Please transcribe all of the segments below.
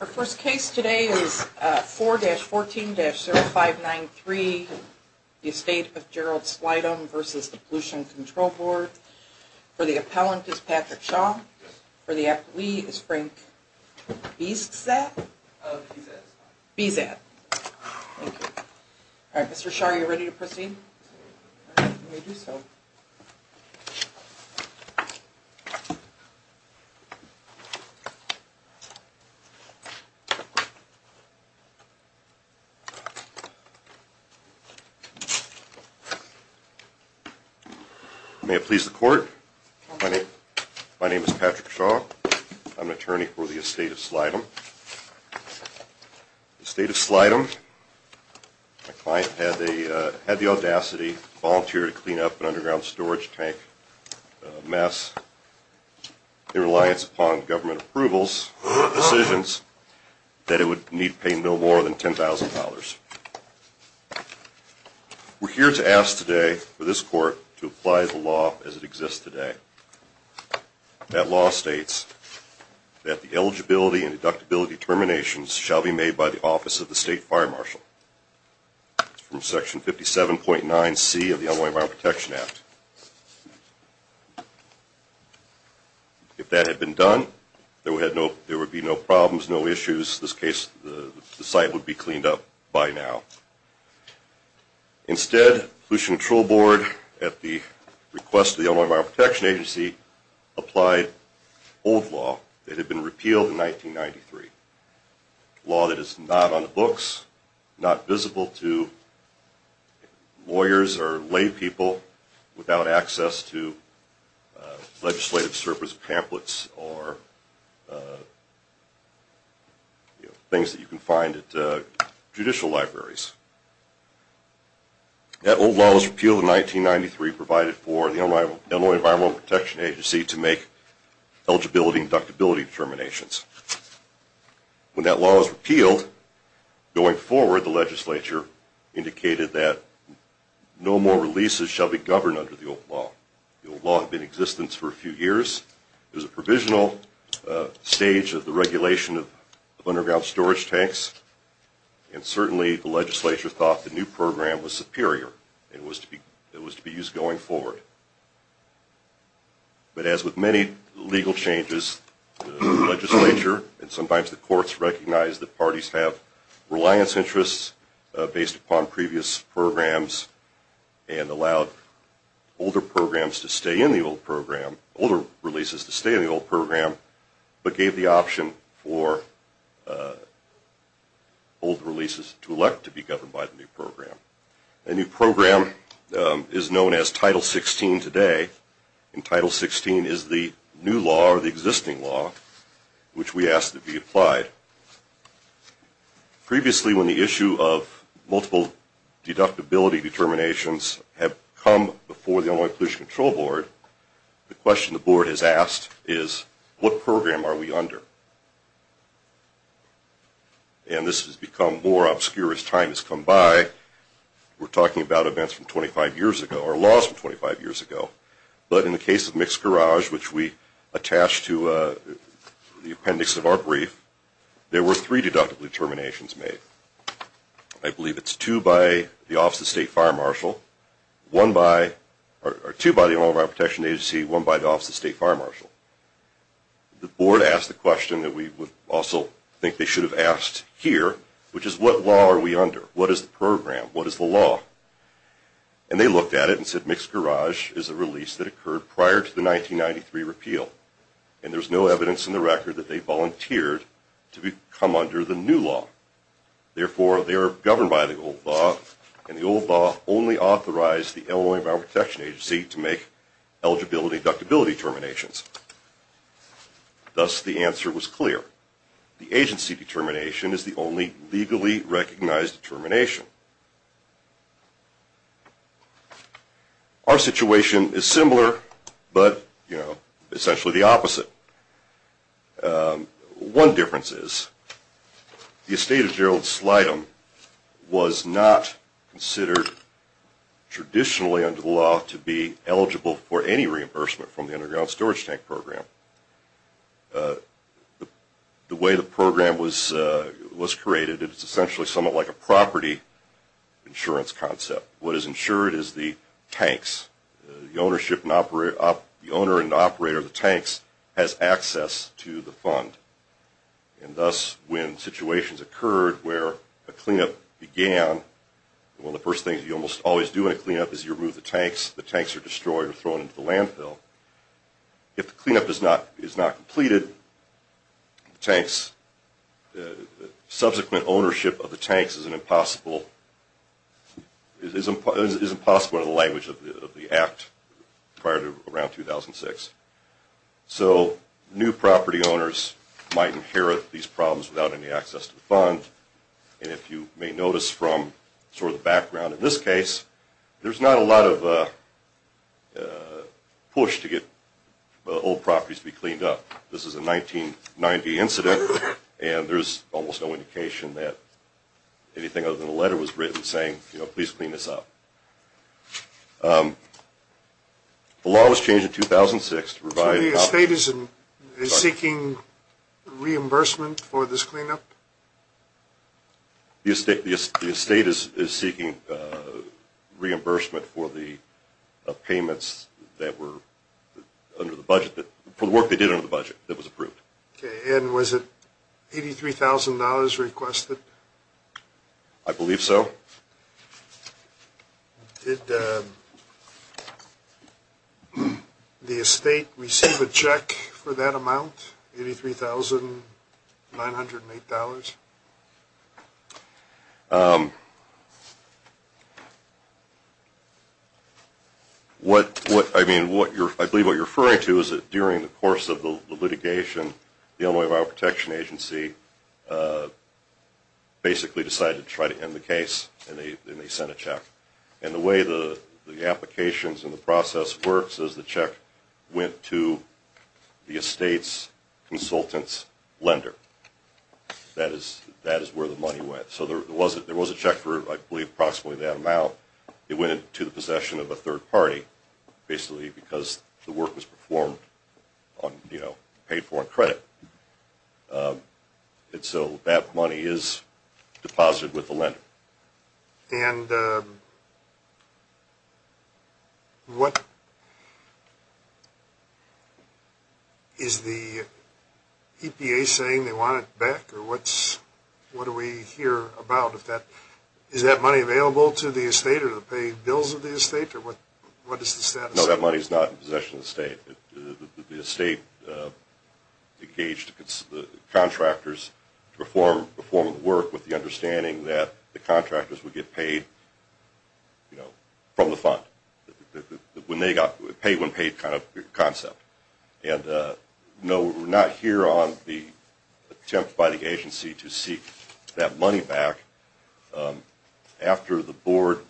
Our first case today is 4-14-0593, the estate of Gerald Slightom v. Pollution Control Board. For the appellant is Patrick Shaw. For the appellee is Frank Bizat. Mr. Shaw, are you ready to proceed? May it please the court. My name is Patrick Shaw. I'm an attorney for the estate of Slightom. The estate of Slightom, my client had the audacity to volunteer to clean up an underground storage tank mess in reliance upon government approvals and decisions that it would need to pay no more than $10,000. We're here to ask today for this court to apply the law as it exists today. That law states that the eligibility and deductibility terminations shall be made by the Office of the State Fire Marshal from Section 57.9C of the Illinois Environmental Protection Act. If that had been done, there would be no problems, no issues. In this case, the site would be cleaned up by now. Instead, the Pollution Control Board, at the request of the Illinois Environmental Protection Agency, applied old law that had been repealed in 1993, law that is not on books, not visible to lawyers or lay people, without access to legislative surplus pamphlets or things that you can find at judicial libraries. That old law was repealed in 1993, provided for the Illinois Environmental Protection Agency to make eligibility and deductibility terminations. When that law was repealed, going forward, the legislature indicated that no more releases shall be governed under the old law. The old law had been in existence for a few years. It was a provisional stage of the regulation of underground storage tanks. Certainly, the legislature thought the new program was superior. It was to be used going forward. But as with many legal changes, the legislature and sometimes the courts recognized that parties have reliance interests based upon previous programs and allowed older releases to stay in the old program, but gave the option for older releases to elect to be governed by the new program. The new program is known as Title 16 today, and Title 16 is the new law or the existing law which we ask to be applied. Previously, when the issue of multiple deductibility determinations had come before the Illinois Pollution Control Board, the question the board has asked is, what program are we under? And this has become more obscure as time has come by. We're talking about events from 25 years ago or laws from 25 years ago. But in the case of Mixed Garage, which we attached to the appendix of our brief, there were three deductible determinations made. I believe it's two by the Office of State Fire Marshal, one by, or two by the Illinois Environmental Protection Agency, one by the Office of State Fire Marshal. The board asked the question that we would also think they should have asked here, which is, what law are we under? What is the program? What is the law? And they looked at it and said, Mixed Garage is a release that occurred prior to the 1993 repeal. And there's no evidence in the record that they volunteered to come under the new law. Therefore, they are governed by the old law. And the old law only authorized the Illinois Environmental Protection Agency to make eligibility deductibility determinations. Thus, the answer was clear. The agency determination is the only legally recognized determination. Our situation is similar, but, you know, essentially the opposite. One difference is, the estate of Gerald Slydom was not considered traditionally under the law to be eligible for any reimbursement from the Underground Storage Tank Program. The way the program was created, it's essentially somewhat like a property insurance concept. What is insured is the tanks. The owner and operator of the tanks has access to the fund. And thus, when situations occurred where a cleanup began, one of the first things you almost always do in a cleanup is you remove the tanks. The tanks are destroyed or thrown into the landfill. If the cleanup is not completed, subsequent ownership of the tanks is impossible in the language of the Act prior to around 2006. So, new property owners might inherit these problems without any access to the fund. And if you may notice from sort of the background in this case, there's not a lot of push to get old properties to be cleaned up. This is a 1990 incident, and there's almost no indication that anything other than a letter was written saying, you know, please clean this up. The law was changed in 2006 to provide... So the estate is seeking reimbursement for this cleanup? The estate is seeking reimbursement for the payments that were under the budget, for the work they did under the budget that was approved. Okay, and was it $83,000 requested? I believe so. Did the estate receive a check for that amount, $83,908? What, I mean, I believe what you're referring to is that during the course of the litigation, the Illinois Bioprotection Agency basically decided to try to end the case, and they sent a check. And the way the applications and the process works is the check went to the estate's consultant's lender. That is where the money went. So there was a check for, I believe, approximately that amount. It went into the possession of a third party, basically because the work was performed on, you know, paid for on credit. And what... Is the EPA saying they want it back, or what do we hear about if that... Is that money available to the estate, or the paid bills of the estate, or what does the status say? No, that money is not in possession of the estate. The estate engaged the contractors to perform the work with the understanding that the contractors would get paid, you know, from the fund. The pay when paid kind of concept. And no, we're not here on the attempt by the agency to seek that money back. After the board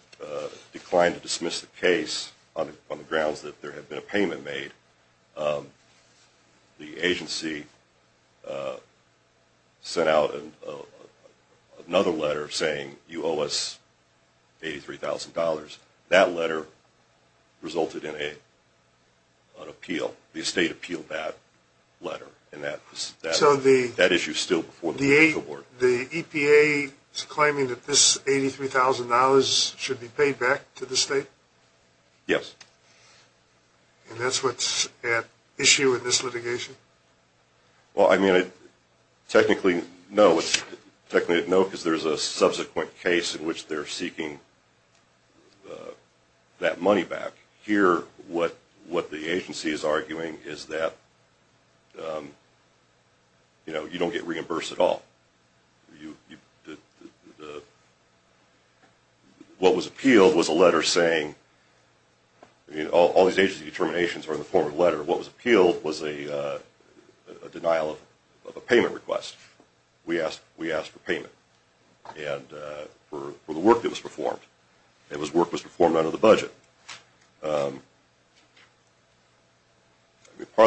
declined to dismiss the case on the grounds that there had been a payment made, the agency sent out another letter saying, you owe us $83,000. That letter resulted in an appeal. The estate appealed that letter, and that issue is still before the board. The EPA is claiming that this $83,000 should be paid back to the state? Yes. And that's what's at issue in this litigation? Well, I mean, technically, no. Technically, no, because there's a subsequent case in which they're seeking that money back. Here, what the agency is arguing is that, you know, you don't get reimbursed at all. What was appealed was a letter saying, I mean, all these agency determinations are in the form of a letter. What was appealed was a denial of a payment request. We asked for payment for the work that was performed. It was work that was performed under the budget. Part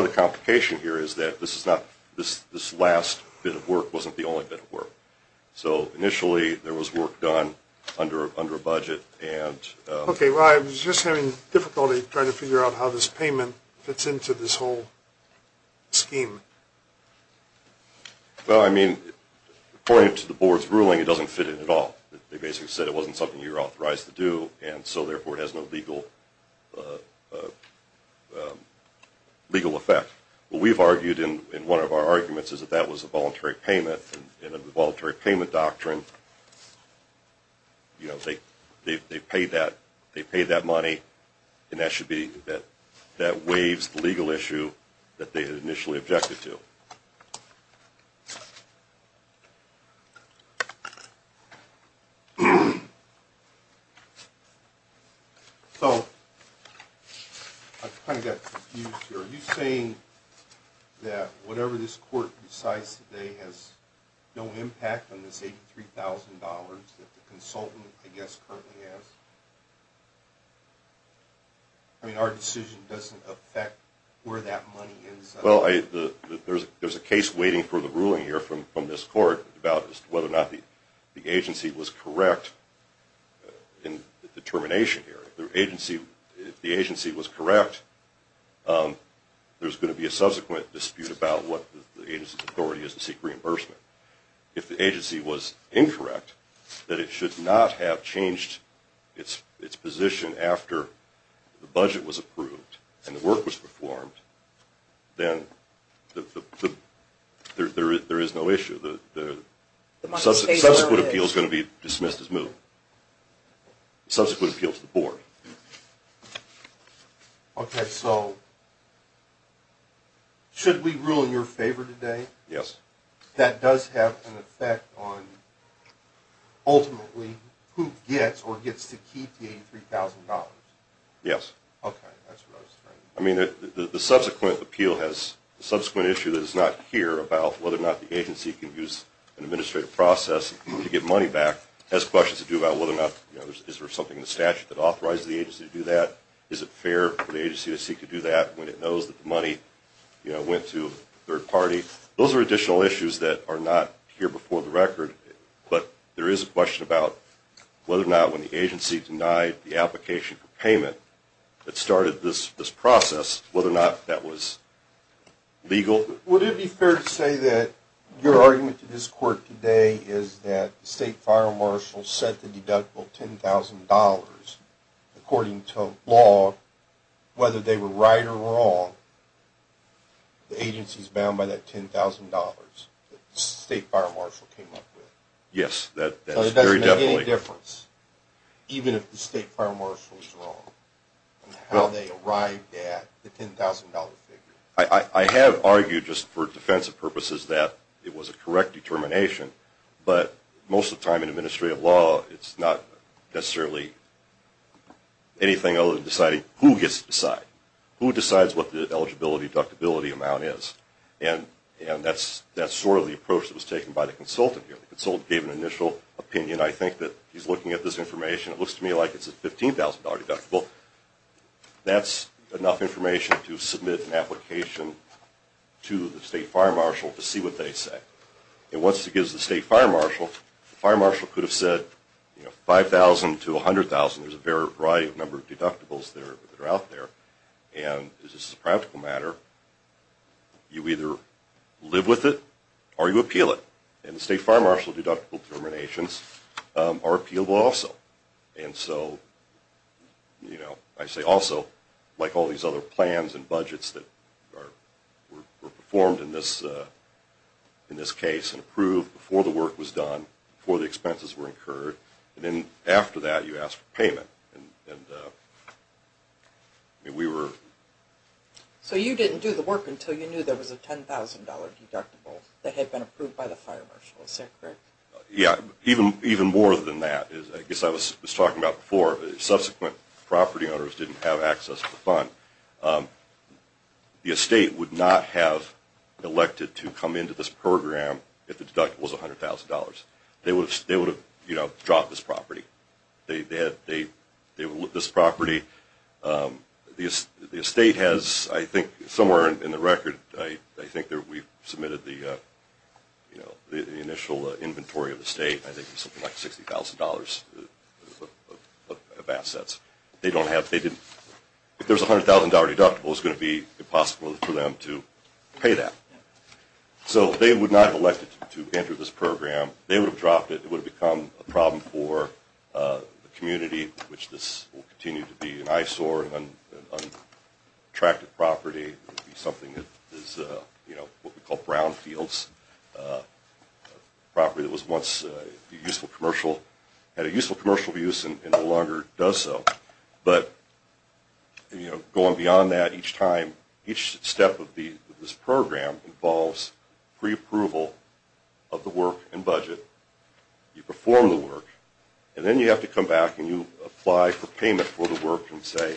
of the complication here is that this last bit of work wasn't the only bit of work. So initially, there was work done under a budget. Okay. Well, I was just having difficulty trying to figure out how this payment fits into this whole scheme. Well, I mean, according to the board's ruling, it doesn't fit in at all. They basically said it wasn't something you were authorized to do, and so, therefore, it has no legal effect. What we've argued in one of our arguments is that that was a voluntary payment. And under the voluntary payment doctrine, you know, they paid that money, and that waves the legal issue that they had initially objected to. So I kind of got confused here. Are you saying that whatever this court decides today has no impact on this $83,000 that the consultant, I guess, currently has? I mean, our decision doesn't affect where that money ends up. Well, there's a case waiting for the ruling here from this court about whether or not the agency was correct in the determination here. If the agency was correct, there's going to be a subsequent dispute about what the agency's authority is to seek reimbursement. If the agency was incorrect, that it should not have changed its position after the budget was approved and the work was performed, then there is no issue. The subsequent appeal is going to be dismissed as moved. Subsequent appeal to the board. Okay, so should we rule in your favor today? Yes. That does have an effect on ultimately who gets or gets to keep the $83,000? Okay, that's what I was trying to get at. I mean, the subsequent appeal has a subsequent issue that is not here about whether or not the agency can use an administrative process to get money back. It has questions to do about whether or not, you know, is there something in the statute that authorizes the agency to do that? Is it fair for the agency to seek to do that when it knows that the money, you know, went to a third party? Those are additional issues that are not here before the record. But there is a question about whether or not when the agency denied the application for payment, it started this process, whether or not that was legal? Would it be fair to say that your argument to this court today is that the state fire marshal set the deductible $10,000 according to law, whether they were right or wrong, the agency is bound by that $10,000 that the state fire marshal came up with? Yes. So it doesn't make any difference even if the state fire marshal is wrong in how they arrived at the $10,000 figure? I have argued just for defensive purposes that it was a correct determination, but most of the time in administrative law it's not necessarily anything other than deciding who gets to decide. Who decides what the eligibility deductibility amount is? And that's sort of the approach that was taken by the consultant here. The consultant gave an initial opinion. I think that he's looking at this information. It looks to me like it's a $15,000 deductible. That's enough information to submit an application to the state fire marshal to see what they say. And once it gets to the state fire marshal, the fire marshal could have said $5,000 to $100,000. There's a variety of number of deductibles that are out there. And this is a practical matter. You either live with it or you appeal it. And the state fire marshal deductible determinations are appealable also. And so I say also, like all these other plans and budgets that were performed in this case and approved before the work was done, before the expenses were incurred, and then after that you ask for payment. So you didn't do the work until you knew there was a $10,000 deductible that had been approved by the fire marshal. Is that correct? Yeah, even more than that. I guess I was talking about before, subsequent property owners didn't have access to the fund. The estate would not have elected to come into this program if the deductible was $100,000. They would have dropped this property. The estate has, I think, somewhere in the record, I think we submitted the initial inventory of the estate. I think it was something like $60,000 of assets. If there's a $100,000 deductible, it's going to be impossible for them to pay that. So they would not have elected to enter this program. They would have dropped it. It would have become a problem for the community, which this will continue to be an eyesore, an unattractive property. It would be something that is what we call brownfields, a property that had a useful commercial use and no longer does so. But going beyond that, each step of this program involves preapproval of the work and budget. You perform the work, and then you have to come back and you apply for payment for the work and say,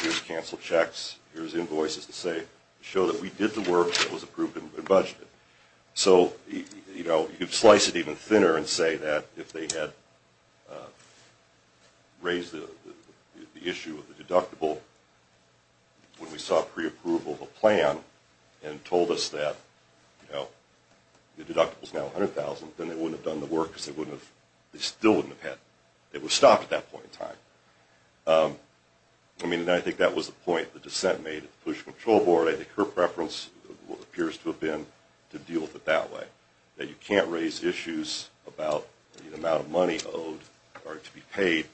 here's canceled checks, here's invoices to show that we did the work that was approved and budgeted. So you slice it even thinner and say that if they had raised the issue of the deductible when we saw preapproval of the plan and told us that the deductible is now $100,000, then they wouldn't have done the work because they still wouldn't have had it. They would have stopped at that point in time. I mean, I think that was the point the dissent made at the pollution control board. I think her preference appears to have been to deal with it that way, that you can't raise issues about the amount of money owed or to be paid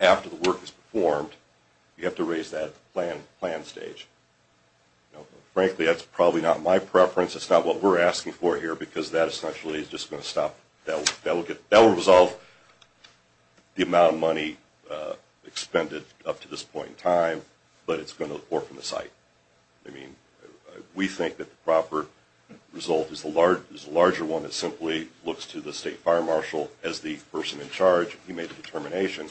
after the work is performed. You have to raise that at the plan stage. Frankly, that's probably not my preference. It's not what we're asking for here because that essentially is just going to stop. That will resolve the amount of money expended up to this point in time, but it's going to work from the site. We think that the proper result is the larger one that simply looks to the state fire marshal as the person in charge if he made the determination.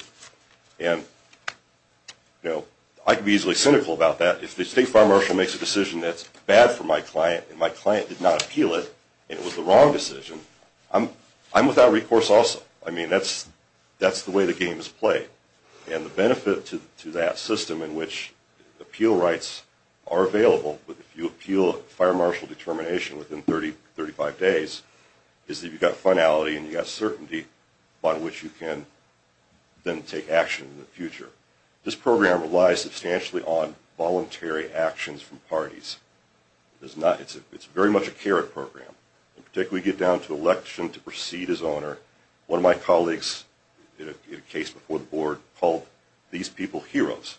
I can be easily cynical about that. If the state fire marshal makes a decision that's bad for my client and my client did not appeal it and it was the wrong decision, I'm without recourse also. I mean, that's the way the game is played. And the benefit to that system in which appeal rights are available, but if you appeal a fire marshal determination within 35 days, is that you've got finality and you've got certainty on which you can then take action in the future. This program relies substantially on voluntary actions from parties. It's very much a carrot program. In particular, we get down to election to proceed as owner. One of my colleagues in a case before the board called these people heroes.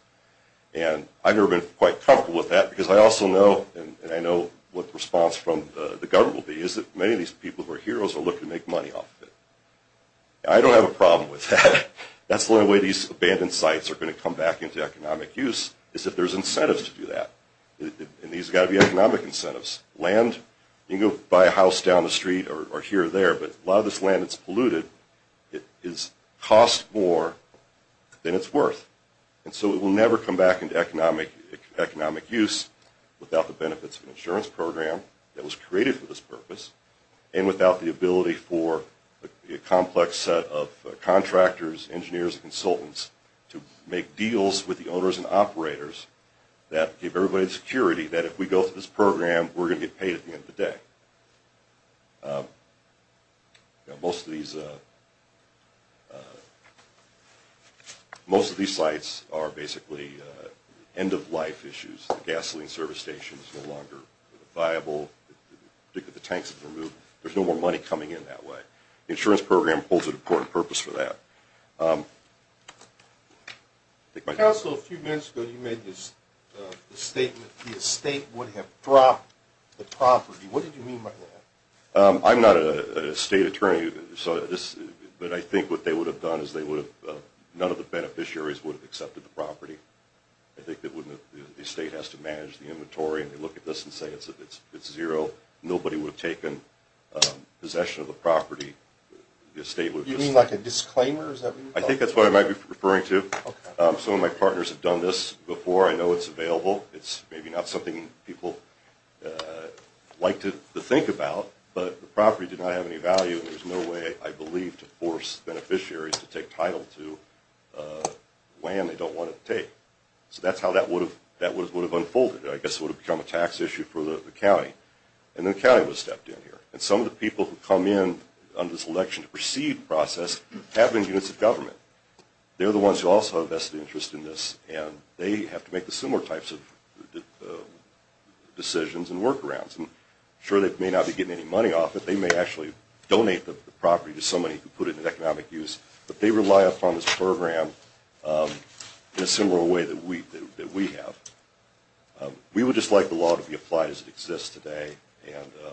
And I've never been quite comfortable with that because I also know, and I know what the response from the government will be, is that many of these people who are heroes are looking to make money off of it. I don't have a problem with that. That's the only way these abandoned sites are going to come back into economic use is if there's incentives to do that. And these have got to be economic incentives. Land, you can go buy a house down the street or here or there, but a lot of this land that's polluted costs more than it's worth. And so it will never come back into economic use without the benefits of an insurance program that was created for this purpose, and without the ability for a complex set of contractors, engineers, and consultants to make deals with the owners and operators that give everybody the security that if we go through this program, we're going to get paid at the end of the day. Most of these sites are basically end-of-life issues. The gasoline service station is no longer viable. In particular, the tanks have been removed. There's no more money coming in that way. The insurance program holds an important purpose for that. Council, a few minutes ago you made the statement the estate would have dropped the property. What did you mean by that? I'm not an estate attorney, but I think what they would have done is none of the beneficiaries would have accepted the property. I think the estate has to manage the inventory, and they look at this and say it's zero. Nobody would have taken possession of the property. You mean like a disclaimer? I think that's what I might be referring to. Some of my partners have done this before. I know it's available. It's maybe not something people like to think about, but the property did not have any value, and there's no way, I believe, to force beneficiaries to take title to land they don't want to take. So that's how that would have unfolded. I guess it would have become a tax issue for the county, and then the county would have stepped in here. Some of the people who come in on this election to proceed the process have been units of government. They're the ones who also have vested interest in this, and they have to make the similar types of decisions and workarounds. Sure, they may not be getting any money off it. They may actually donate the property to somebody who put it in economic use, but they rely upon this program in a similar way that we have. We would just like the law to be applied as it exists today, and I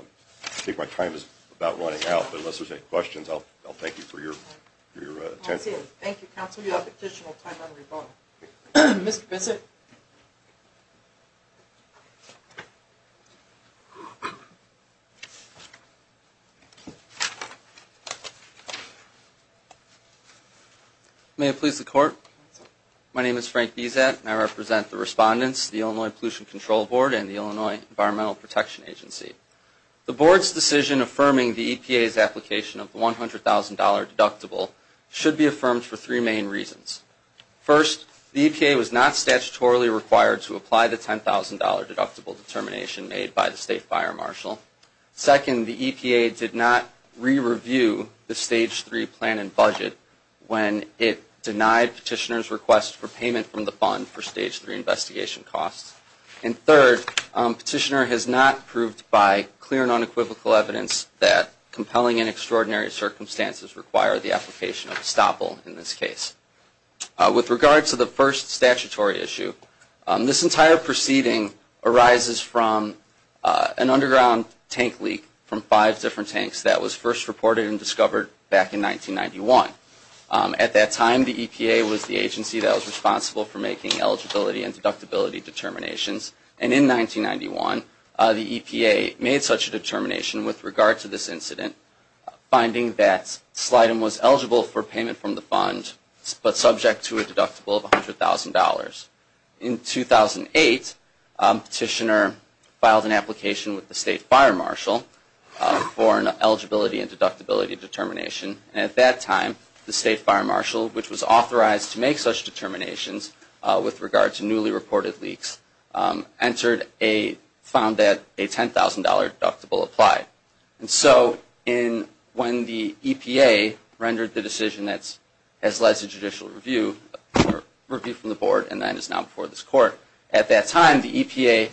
think my time is about running out, but unless there's any questions, I'll thank you for your attention. Thank you, counsel. You have additional time on your phone. Mr. Bissett? May it please the Court? My name is Frank Bissett, and I represent the respondents, the Illinois Pollution Control Board and the Illinois Environmental Protection Agency. The Board's decision affirming the EPA's application of the $100,000 deductible should be affirmed for three main reasons. First, the EPA was not statutorily required to apply the $10,000 deductible determination made by the State Fire Marshal. Second, the EPA did not re-review the Stage 3 plan and budget when it denied Petitioner's request for payment from the fund for Stage 3 investigation costs. And third, Petitioner has not proved by clear and unequivocal evidence that Petitioner has denied the application of estoppel in this case. With regard to the first statutory issue, this entire proceeding arises from an underground tank leak from five different tanks that was first reported and discovered back in 1991. At that time, the EPA was the agency that was responsible for making eligibility and deductibility determinations, and in 1991, the EPA made such a determination with regard to this incident, finding that Slidem was eligible for payment from the fund, but subject to a deductible of $100,000. In 2008, Petitioner filed an application with the State Fire Marshal for an eligibility and deductibility determination, and at that time, the State Fire Marshal, which was authorized to make such determinations with regard to newly reported leaks, found that a $10,000 deductible applied. And so when the EPA rendered the decision that has led to judicial review, or review from the board, and that is now before this Court, at that time the EPA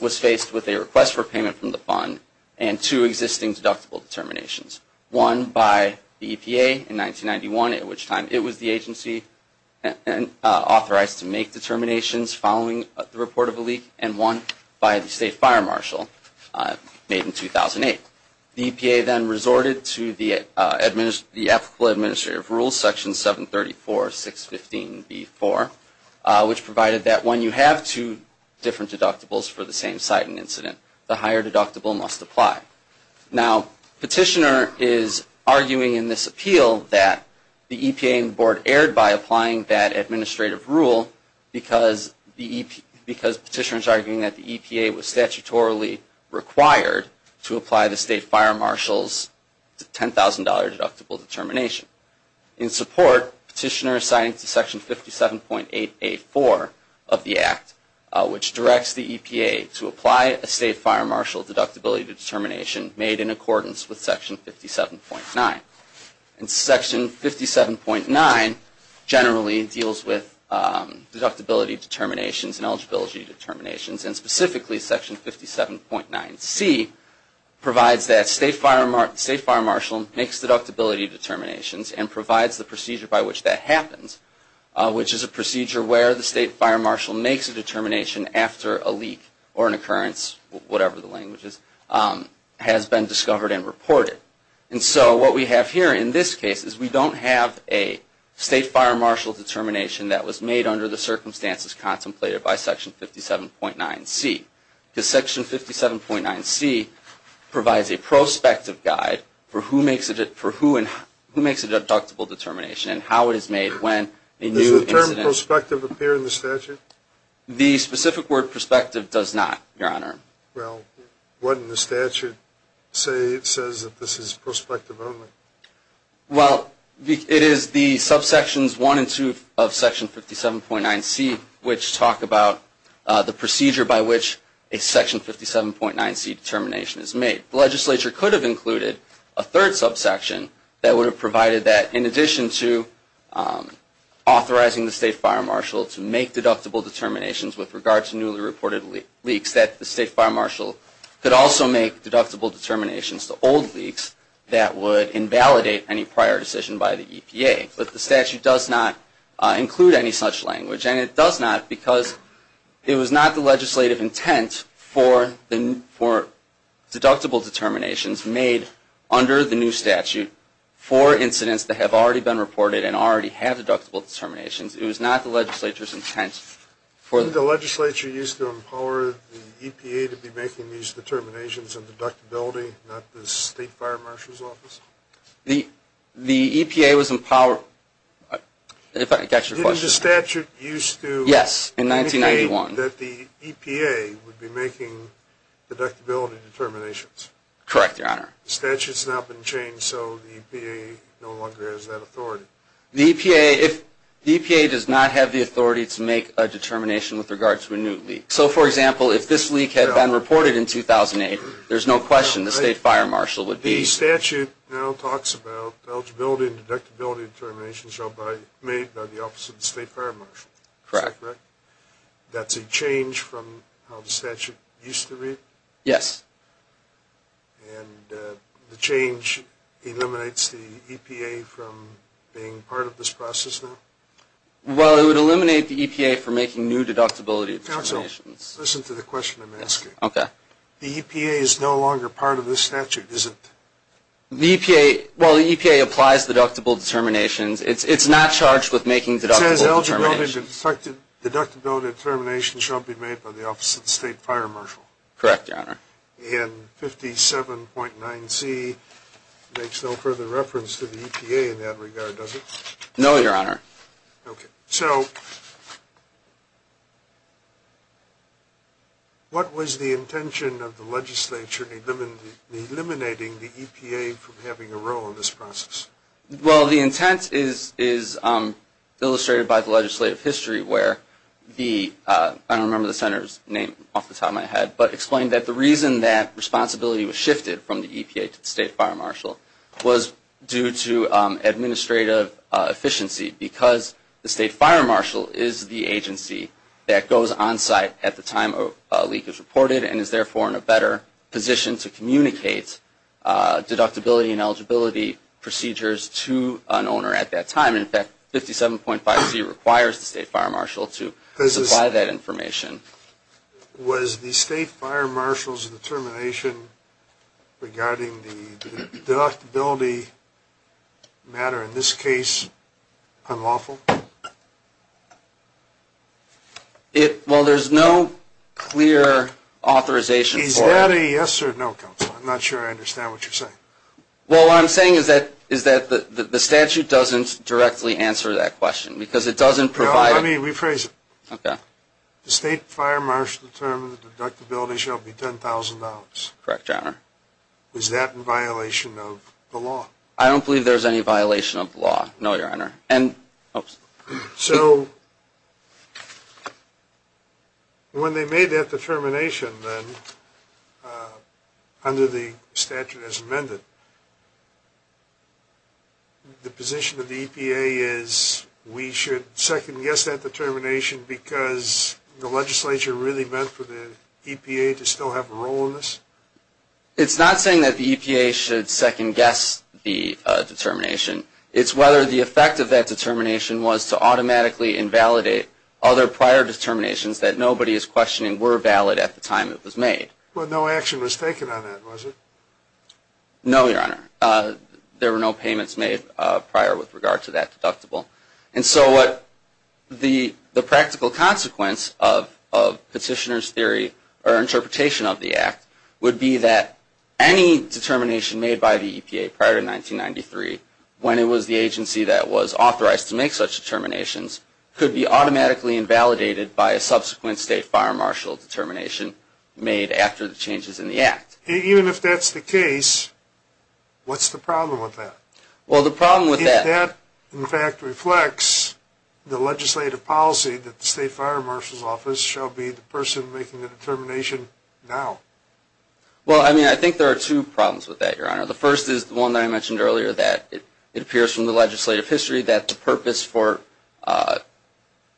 was faced with a request for payment from the fund and two existing deductible determinations. One by the EPA in 1991, at which time it was the agency authorized to make determinations following the report of a leak, and one by the State Fire Marshal made in 2008. The EPA then resorted to the applicable administrative rules, Section 734.615.B.4, which provided that when you have two different deductibles for the same site and incident, the higher deductible must apply. Now, Petitioner is arguing in this appeal that the EPA and the board erred by applying an administrative rule because Petitioner is arguing that the EPA was statutorily required to apply the State Fire Marshal's $10,000 deductible determination. In support, Petitioner is signing to Section 57.884 of the Act, which directs the EPA to apply a State Fire Marshal deductibility determination made in accordance with Section 57.9. And Section 57.9 generally deals with deductibility determinations and eligibility determinations, and specifically Section 57.9C provides that State Fire Marshal makes deductibility determinations and provides the procedure by which that happens, which is a procedure where the State Fire Marshal makes a determination after a leak or an occurrence, whatever the language is, has been discovered and reported. And so what we have here in this case is we don't have a State Fire Marshal determination that was made under the circumstances contemplated by Section 57.9C because Section 57.9C provides a prospective guide for who makes a deductible determination and how it is made when a new incident occurs. Does the term prospective appear in the statute? The specific word prospective does not, Your Honor. Well, wouldn't the statute say it says that this is prospective only? Well, it is the subsections 1 and 2 of Section 57.9C, which talk about the procedure by which a Section 57.9C determination is made. The legislature could have included a third subsection that would have provided that in addition to authorizing the State Fire Marshal to make deductible determinations with regard to newly reported leaks that the State Fire Marshal could also make deductible determinations to old leaks that would invalidate any prior decision by the EPA. But the statute does not include any such language, and it does not because it was not the legislative intent for deductible determinations made under the new statute for incidents that have already been reported and already have deductible determinations. It was not the legislature's intent for them. Wasn't the legislature used to empower the EPA to be making these determinations and deductibility, not the State Fire Marshal's office? The EPA was empowered. If I can catch your question. Isn't the statute used to indicate that the EPA would be making deductible determinations? Correct, Your Honor. The statute has not been changed, so the EPA no longer has that authority. The EPA does not have the authority to make a determination with regard to a new leak. So, for example, if this leak had been reported in 2008, there's no question the State Fire Marshal would be. The statute now talks about eligibility and deductibility determinations made by the office of the State Fire Marshal. Correct. Is that correct? That's a change from how the statute used to read? Yes. And the change eliminates the EPA from being part of this process now? Well, it would eliminate the EPA from making new deductibility determinations. Counsel, listen to the question I'm asking. Okay. The EPA is no longer part of this statute, is it? Well, the EPA applies deductible determinations. It's not charged with making deductible determinations. It says, Eligibility and deductibility determinations shall be made by the office of the State Fire Marshal. Correct, Your Honor. And 57.9C makes no further reference to the EPA in that regard, does it? No, Your Honor. Okay. So, what was the intention of the legislature in eliminating the EPA from having a role in this process? Well, the intent is illustrated by the legislative history where the, I don't remember the Senator's name off the top of my head, but explained that the reason that responsibility was shifted from the EPA to the State Fire Marshal was due to administrative efficiency because the State Fire Marshal is the agency that goes on site at the time a leak is reported and is therefore in a better position to communicate deductibility and eligibility procedures to an owner at that time. And in fact, 57.5C requires the State Fire Marshal to supply that information. Was the State Fire Marshal's determination regarding the deductibility matter in this case unlawful? Well, there's no clear authorization for it. Is that a yes or no, counsel? I'm not sure I understand what you're saying. Well, what I'm saying is that the statute doesn't directly answer that question because it doesn't provide. Let me rephrase it. Okay. The State Fire Marshal determined the deductibility shall be $10,000. Correct, Your Honor. Is that in violation of the law? I don't believe there's any violation of the law, no, Your Honor. So when they made that determination under the statute as amended, the position of the EPA is we should second-guess that determination because the legislature really meant for the EPA to still have a role in this? It's not saying that the EPA should second-guess the determination. It's whether the effect of that determination was to automatically invalidate other prior determinations that nobody is questioning were valid at the time it was made. Well, no action was taken on that, was it? No, Your Honor. There were no payments made prior with regard to that deductible. And so what the practical consequence of petitioner's theory or interpretation of the act would be that any determination made by the EPA prior to 1993 when it was the agency that was authorized to make such determinations could be automatically invalidated by a subsequent State Fire Marshal determination made after the changes in the act. Even if that's the case, what's the problem with that? Well, the problem with that... If that, in fact, reflects the legislative policy that the State Fire Marshal's office shall be the person making the determination now. The first is the one that I mentioned earlier, that it appears from the legislative history that the purpose for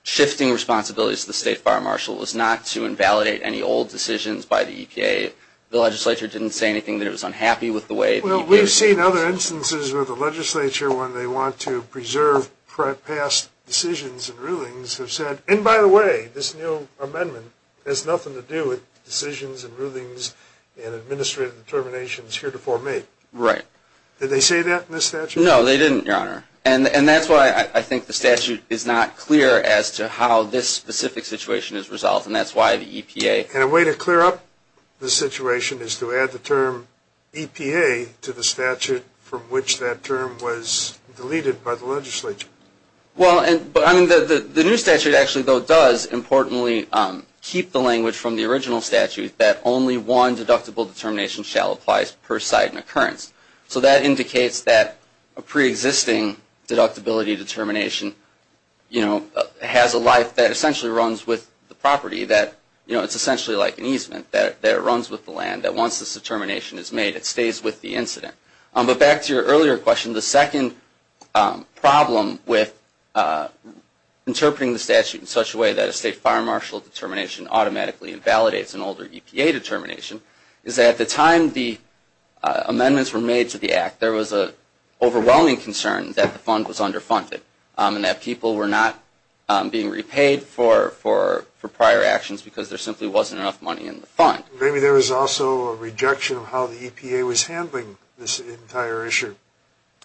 shifting responsibilities to the State Fire Marshal was not to invalidate any old decisions by the EPA. The legislature didn't say anything that it was unhappy with the way the EPA... Well, we've seen other instances where the legislature, when they want to preserve past decisions and rulings, have said, and by the way, this new amendment has nothing to do with decisions and rulings and administrative determinations here to formate. Right. Did they say that in this statute? No, they didn't, Your Honor. And that's why I think the statute is not clear as to how this specific situation is resolved, and that's why the EPA... And a way to clear up the situation is to add the term EPA to the statute from which that term was deleted by the legislature. Well, I mean, the new statute actually, though, does importantly keep the language from the original statute that only one deductible determination shall apply per site and occurrence. So that indicates that a preexisting deductibility determination has a life that essentially runs with the property, that it's essentially like an easement, that it runs with the land, that once this determination is made, it stays with the incident. But back to your earlier question, the second problem with interpreting the statute in such a way that a state fire marshal determination automatically invalidates an older EPA determination is that at the time the amendments were made to the Act, there was an overwhelming concern that the fund was underfunded and that people were not being repaid for prior actions because there simply wasn't enough money in the fund. Maybe there was also a rejection of how the EPA was handling this entire issue,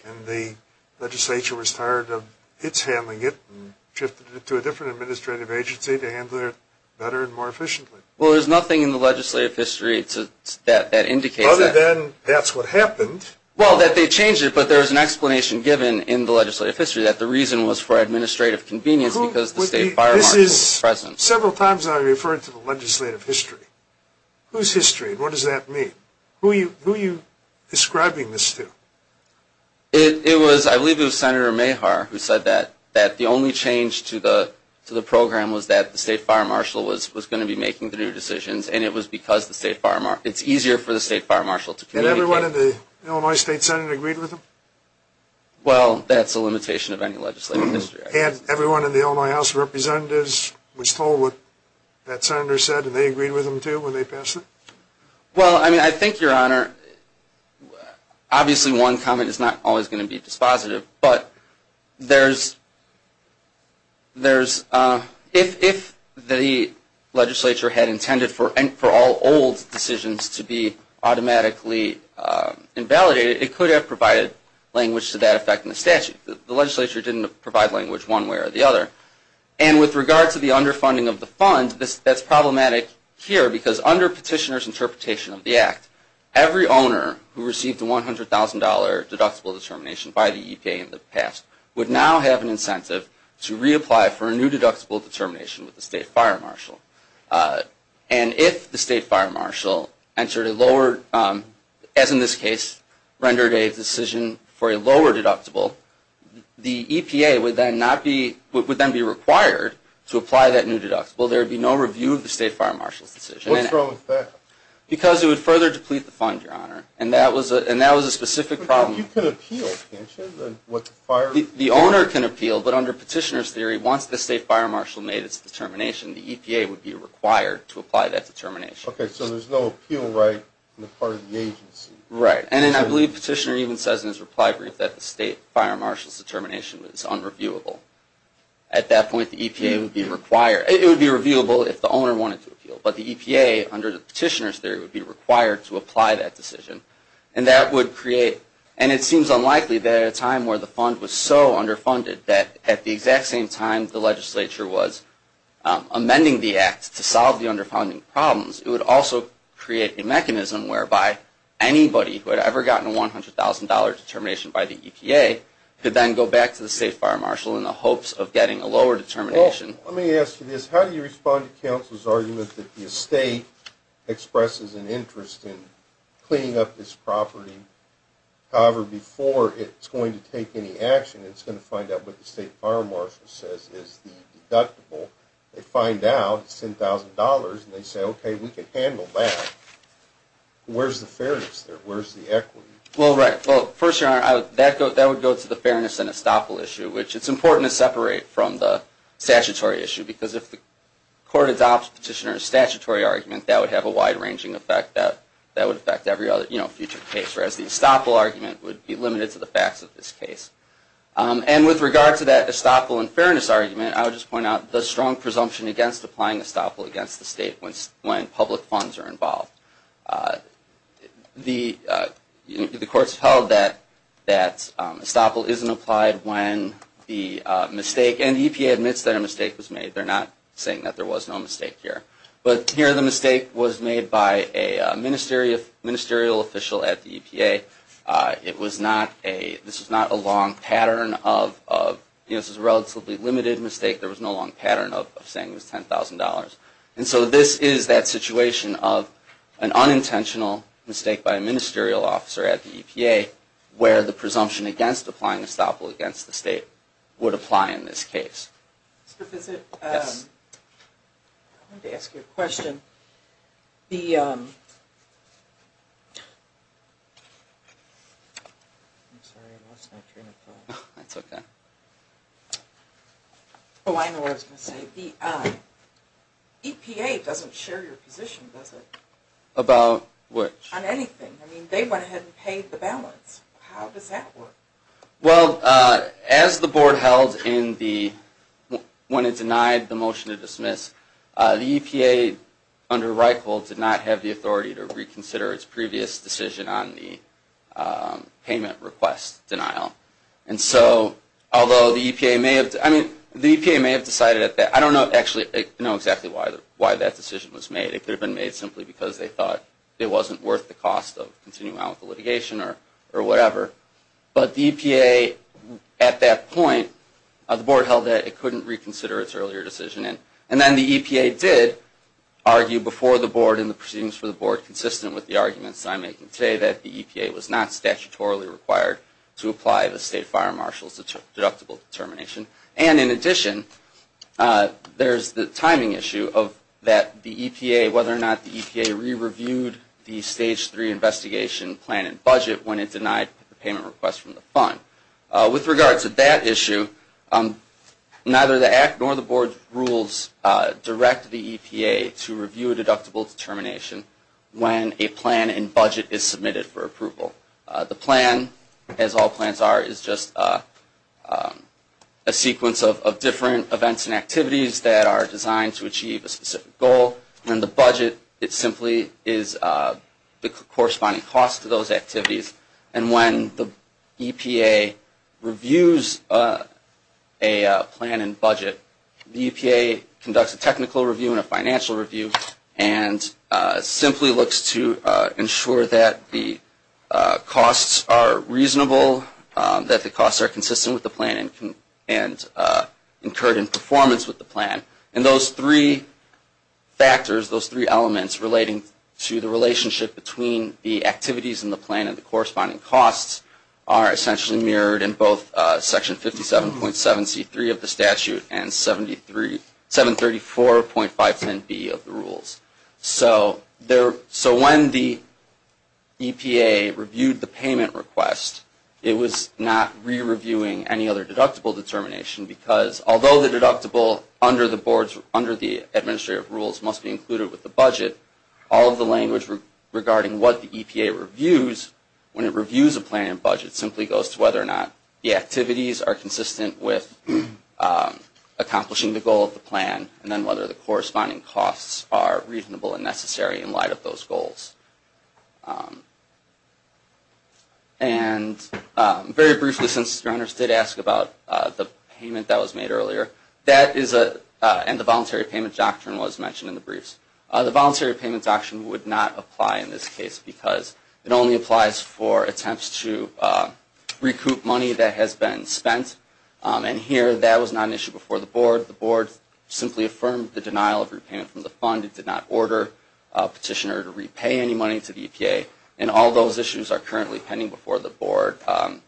and the legislature was tired of its handling it and shifted it to a different administrative agency to handle it better and more efficiently. Well, there's nothing in the legislative history that indicates that. Other than that's what happened. Well, that they changed it, but there's an explanation given in the legislative history that the reason was for administrative convenience because the state fire marshal was present. This is several times I've referred to the legislative history. Whose history? What does that mean? Who are you describing this to? It was, I believe it was Senator Mehar who said that the only change to the program was that the state fire marshal was going to be making the new decisions, and it was because it's easier for the state fire marshal to communicate. And everyone in the Illinois State Senate agreed with him? Well, that's a limitation of any legislative history. And everyone in the Illinois House of Representatives was told what that senator said, and they agreed with him too when they passed it? Well, I mean, I think, Your Honor, obviously one comment is not always going to be dispositive, but if the legislature had intended for all old decisions to be automatically invalidated, it could have provided language to that effect in the statute. The legislature didn't provide language one way or the other. And with regard to the underfunding of the fund, that's problematic here, because under petitioner's interpretation of the act, every owner who received a $100,000 deductible determination by the EPA in the past would now have an incentive to reapply for a new deductible determination with the state fire marshal. And if the state fire marshal entered a lower, as in this case, rendered a decision for a lower deductible, the EPA would then be required to apply that new deductible. There would be no review of the state fire marshal's decision. What's wrong with that? Because it would further deplete the fund, Your Honor, and that was a specific problem. But you can appeal, can't you? The owner can appeal, but under petitioner's theory, once the state fire marshal made its determination, the EPA would be required to apply that determination. Okay, so there's no appeal right on the part of the agency. Right. And I believe petitioner even says in his reply brief that the state fire marshal's determination was unreviewable. At that point, the EPA would be required. It would be reviewable if the owner wanted to appeal. But the EPA, under the petitioner's theory, would be required to apply that decision. And that would create, and it seems unlikely that at a time where the fund was so underfunded that at the exact same time the legislature was amending the act to solve the underfunding problems, it would also create a mechanism whereby anybody who had ever gotten a $100,000 determination by the EPA could then go back to the state fire marshal in the hopes of getting a lower determination. Well, let me ask you this. How do you respond to counsel's argument that the estate expresses an interest in cleaning up this property? However, before it's going to take any action, it's going to find out what the state fire marshal says is the deductible. They find out it's $10,000, and they say, okay, we can handle that. Where's the fairness there? Where's the equity? Well, right. Well, first, that would go to the fairness and estoppel issue, which it's important to separate from the statutory issue because if the court adopts petitioner's statutory argument, that would have a wide-ranging effect. That would affect every other future case, whereas the estoppel argument would be limited to the facts of this case. And with regard to that estoppel and fairness argument, I would just point out the strong presumption against applying estoppel against the state when public funds are involved. The courts held that estoppel isn't applied when the mistake, and the EPA admits that a mistake was made. They're not saying that there was no mistake here. But here the mistake was made by a ministerial official at the EPA. This is a relatively limited mistake. There was no long pattern of saying it was $10,000. And so this is that situation of an unintentional mistake by a ministerial officer at the EPA, where the presumption against applying estoppel against the state would apply in this case. Mr. Visit, I wanted to ask you a question. The EPA doesn't share your position, does it? About what? On anything. I mean, they went ahead and paid the balance. How does that work? Well, as the board held when it denied the motion to dismiss, the EPA, under Reichhold, did not have the authority to reconsider its previous decision on the payment request denial. And so, although the EPA may have decided that. I don't actually know exactly why that decision was made. It could have been made simply because they thought it wasn't worth the cost of continuing on with the litigation or whatever. But the EPA, at that point, the board held that it couldn't reconsider its earlier decision. And then the EPA did argue before the board and the proceedings for the board, consistent with the arguments I'm making today, that the EPA was not statutorily required to apply the State Fire Marshal's deductible determination. And in addition, there's the timing issue of whether or not the EPA re-reviewed the Stage 3 investigation plan and budget when it denied the payment request from the fund. With regard to that issue, neither the Act nor the board's rules direct the EPA to review a deductible determination when a plan and budget is submitted for approval. The plan, as all plans are, is just a sequence of different events and activities that are designed to achieve a specific goal. And the budget, it simply is the corresponding cost to those activities. And when the EPA reviews a plan and budget, the EPA conducts a technical review and a financial review and simply looks to ensure that the costs are reasonable, that the costs are consistent with the plan and incurred in performance with the plan. And those three factors, those three elements relating to the relationship between the activities in the plan and the corresponding costs are essentially mirrored in both Section 57.7C3 of the statute and 734.510B of the rules. So when the EPA reviewed the payment request, it was not re-reviewing any other deductible determination because although the deductible under the administrative rules must be included with the budget, all of the language regarding what the EPA reviews when it reviews a plan and budget simply goes to whether or not the activities are consistent with accomplishing the goal of the plan and then whether the corresponding costs are reasonable and necessary in light of those goals. And very briefly, since your honors did ask about the payment that was made earlier, that is a, and the voluntary payment doctrine was mentioned in the briefs. The voluntary payment doctrine would not apply in this case because it only applies for attempts to recoup money that has been spent. And here, that was not an issue before the board. The board simply affirmed the denial of repayment from the fund. It did not order a petitioner to repay any money to the EPA. And all those issues are currently pending before the board and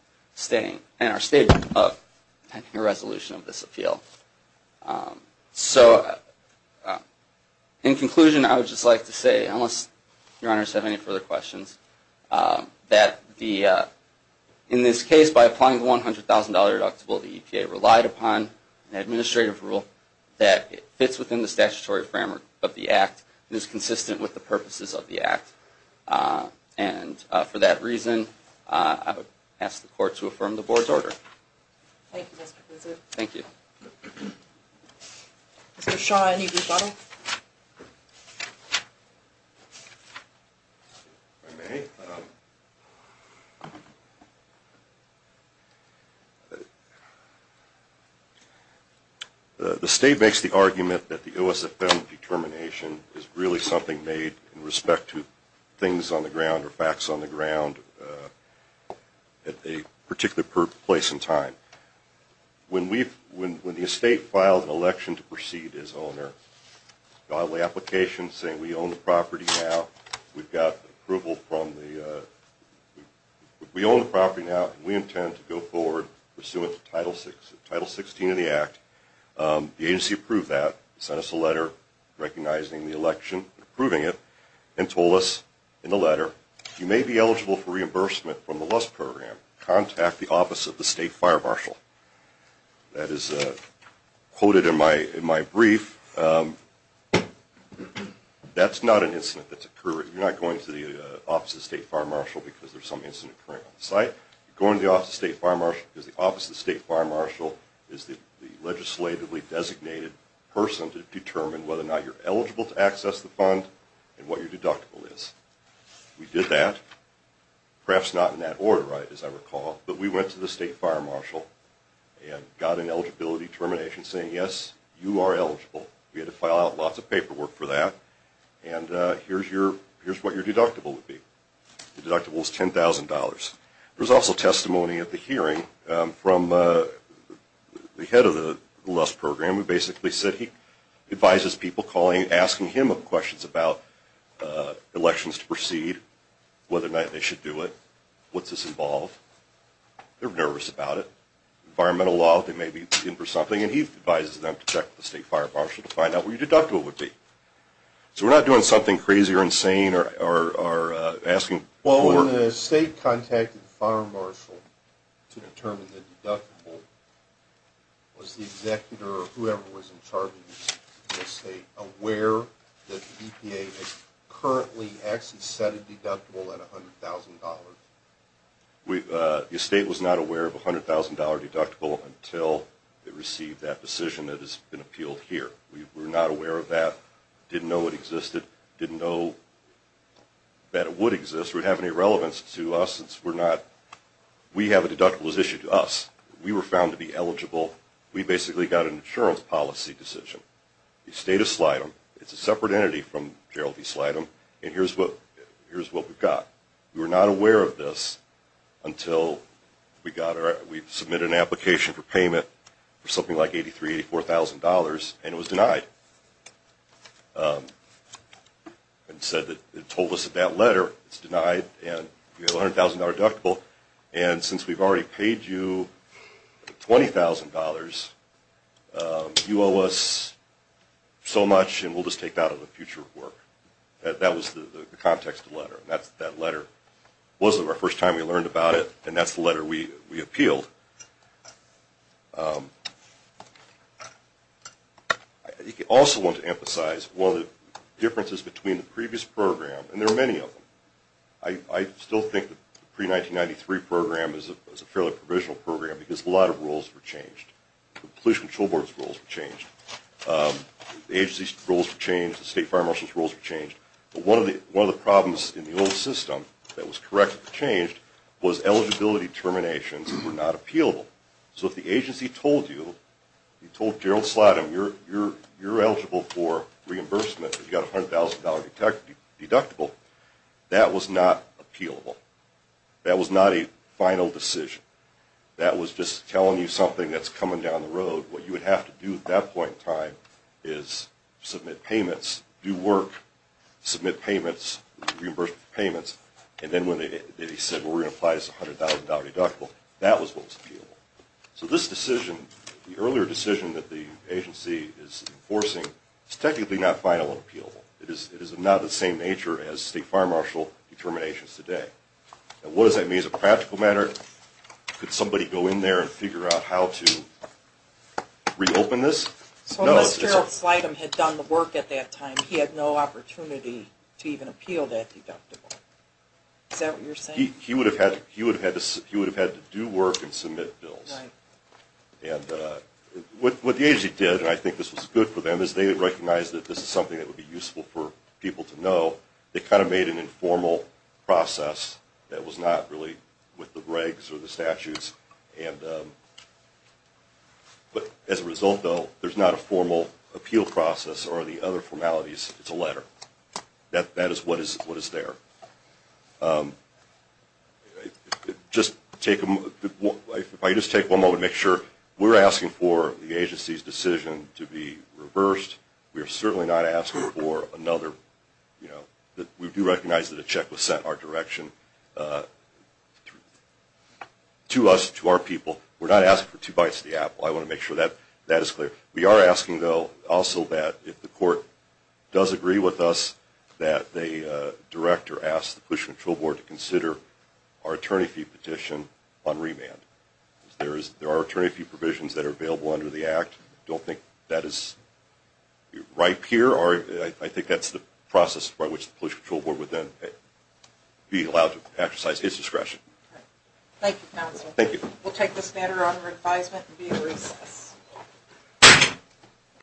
are stable pending a resolution of this appeal. So in conclusion, I would just like to say, unless your honors have any further questions, that in this case, by applying the $100,000 deductible, the EPA relied upon an administrative rule that fits within the statutory framework of the act and is consistent with the purposes of the act. And for that reason, I would ask the court to affirm the board's order. Thank you, Mr. Blizzard. Thank you. Mr. Shaw, any rebuttal? If I may, the state makes the argument that the OSFM determination is really something made in respect to things on the ground or facts on the ground at a particular place and time. When the estate filed an election to proceed its owner, the application saying we own the property now, we intend to go forward pursuant to Title 16 of the act, the agency approved that, sent us a letter recognizing the election, approving it, and told us in the letter, you may be eligible for reimbursement from the LUST program. Contact the office of the state fire marshal. That is quoted in my brief. That's not an incident that's occurring. You're not going to the office of the state fire marshal because there's some incident occurring on the site. You're going to the office of the state fire marshal because the office of the state fire marshal is the legislatively designated person to determine whether or not you're eligible to access the fund and what your deductible is. We did that. Perhaps not in that order, as I recall, but we went to the state fire marshal and got an eligibility determination saying, yes, you are eligible. We had to file out lots of paperwork for that, and here's what your deductible would be. The deductible is $10,000. There was also testimony at the hearing from the head of the LUST program who basically said he advises people calling and asking him questions about elections to proceed, whether or not they should do it, what's this involve. They're nervous about it. Environmental law, they may be in for something, and he advises them to check with the state fire marshal to find out what your deductible would be. So we're not doing something crazy or insane or asking for it. When the state contacted the fire marshal to determine the deductible, was the executor or whoever was in charge of the state aware that the EPA had currently actually set a deductible at $100,000? The state was not aware of a $100,000 deductible until it received that decision that has been appealed here. We were not aware of that, didn't know it existed, didn't know that it would exist. We didn't realize it would have any relevance to us. We have a deductible that was issued to us. We were found to be eligible. We basically got an insurance policy decision. The state of Slidham, it's a separate entity from Gerald v. Slidham, and here's what we got. We were not aware of this until we submitted an application for payment for something like $83,000, $84,000, and it was denied. It told us that that letter is denied and you have a $100,000 deductible, and since we've already paid you $20,000, you owe us so much and we'll just take that out of the future work. That was the context of the letter. That letter wasn't the first time we learned about it, and that's the letter we appealed. I also want to emphasize one of the differences between the previous program, and there are many of them. I still think the pre-1993 program is a fairly provisional program because a lot of rules were changed. The Police Control Board's rules were changed. The agency's rules were changed. The State Fire Marshal's rules were changed. But one of the problems in the old system that was corrected and changed was eligibility terminations were not applied. So if the agency told you, told Gerald Slotin, you're eligible for reimbursement, you've got a $100,000 deductible, that was not appealable. That was not a final decision. That was just telling you something that's coming down the road. What you would have to do at that point in time is submit payments, do work, submit payments, reimbursements for payments, and then when they said, well, we're going to apply this $100,000 deductible, that was what was appealable. So this decision, the earlier decision that the agency is enforcing, is technically not final and appealable. It is of not the same nature as State Fire Marshal determinations today. Now what does that mean as a practical matter? Could somebody go in there and figure out how to reopen this? So unless Gerald Slotin had done the work at that time, he had no opportunity to even appeal that deductible. Is that what you're saying? He would have had to do work and submit bills. And what the agency did, and I think this was good for them, is they recognized that this is something that would be useful for people to know. They kind of made an informal process that was not really with the regs or the statutes. But as a result, though, there's not a formal appeal process or the other formalities. It's a letter. That is what is there. If I could just take one moment to make sure. We're asking for the agency's decision to be reversed. We are certainly not asking for another, you know, we do recognize that a check was sent our direction to us. To our people. We're not asking for two bites of the apple. I want to make sure that that is clear. We are asking, though, also that if the court does agree with us that they direct or ask the Pollution Control Board to consider our attorney fee petition on remand. There are attorney fee provisions that are available under the Act. I don't think that is ripe here. I think that's the process by which the Pollution Control Board would then be allowed to exercise its discretion. Thank you, counsel. Thank you. We'll take this matter under advisement and be in recess.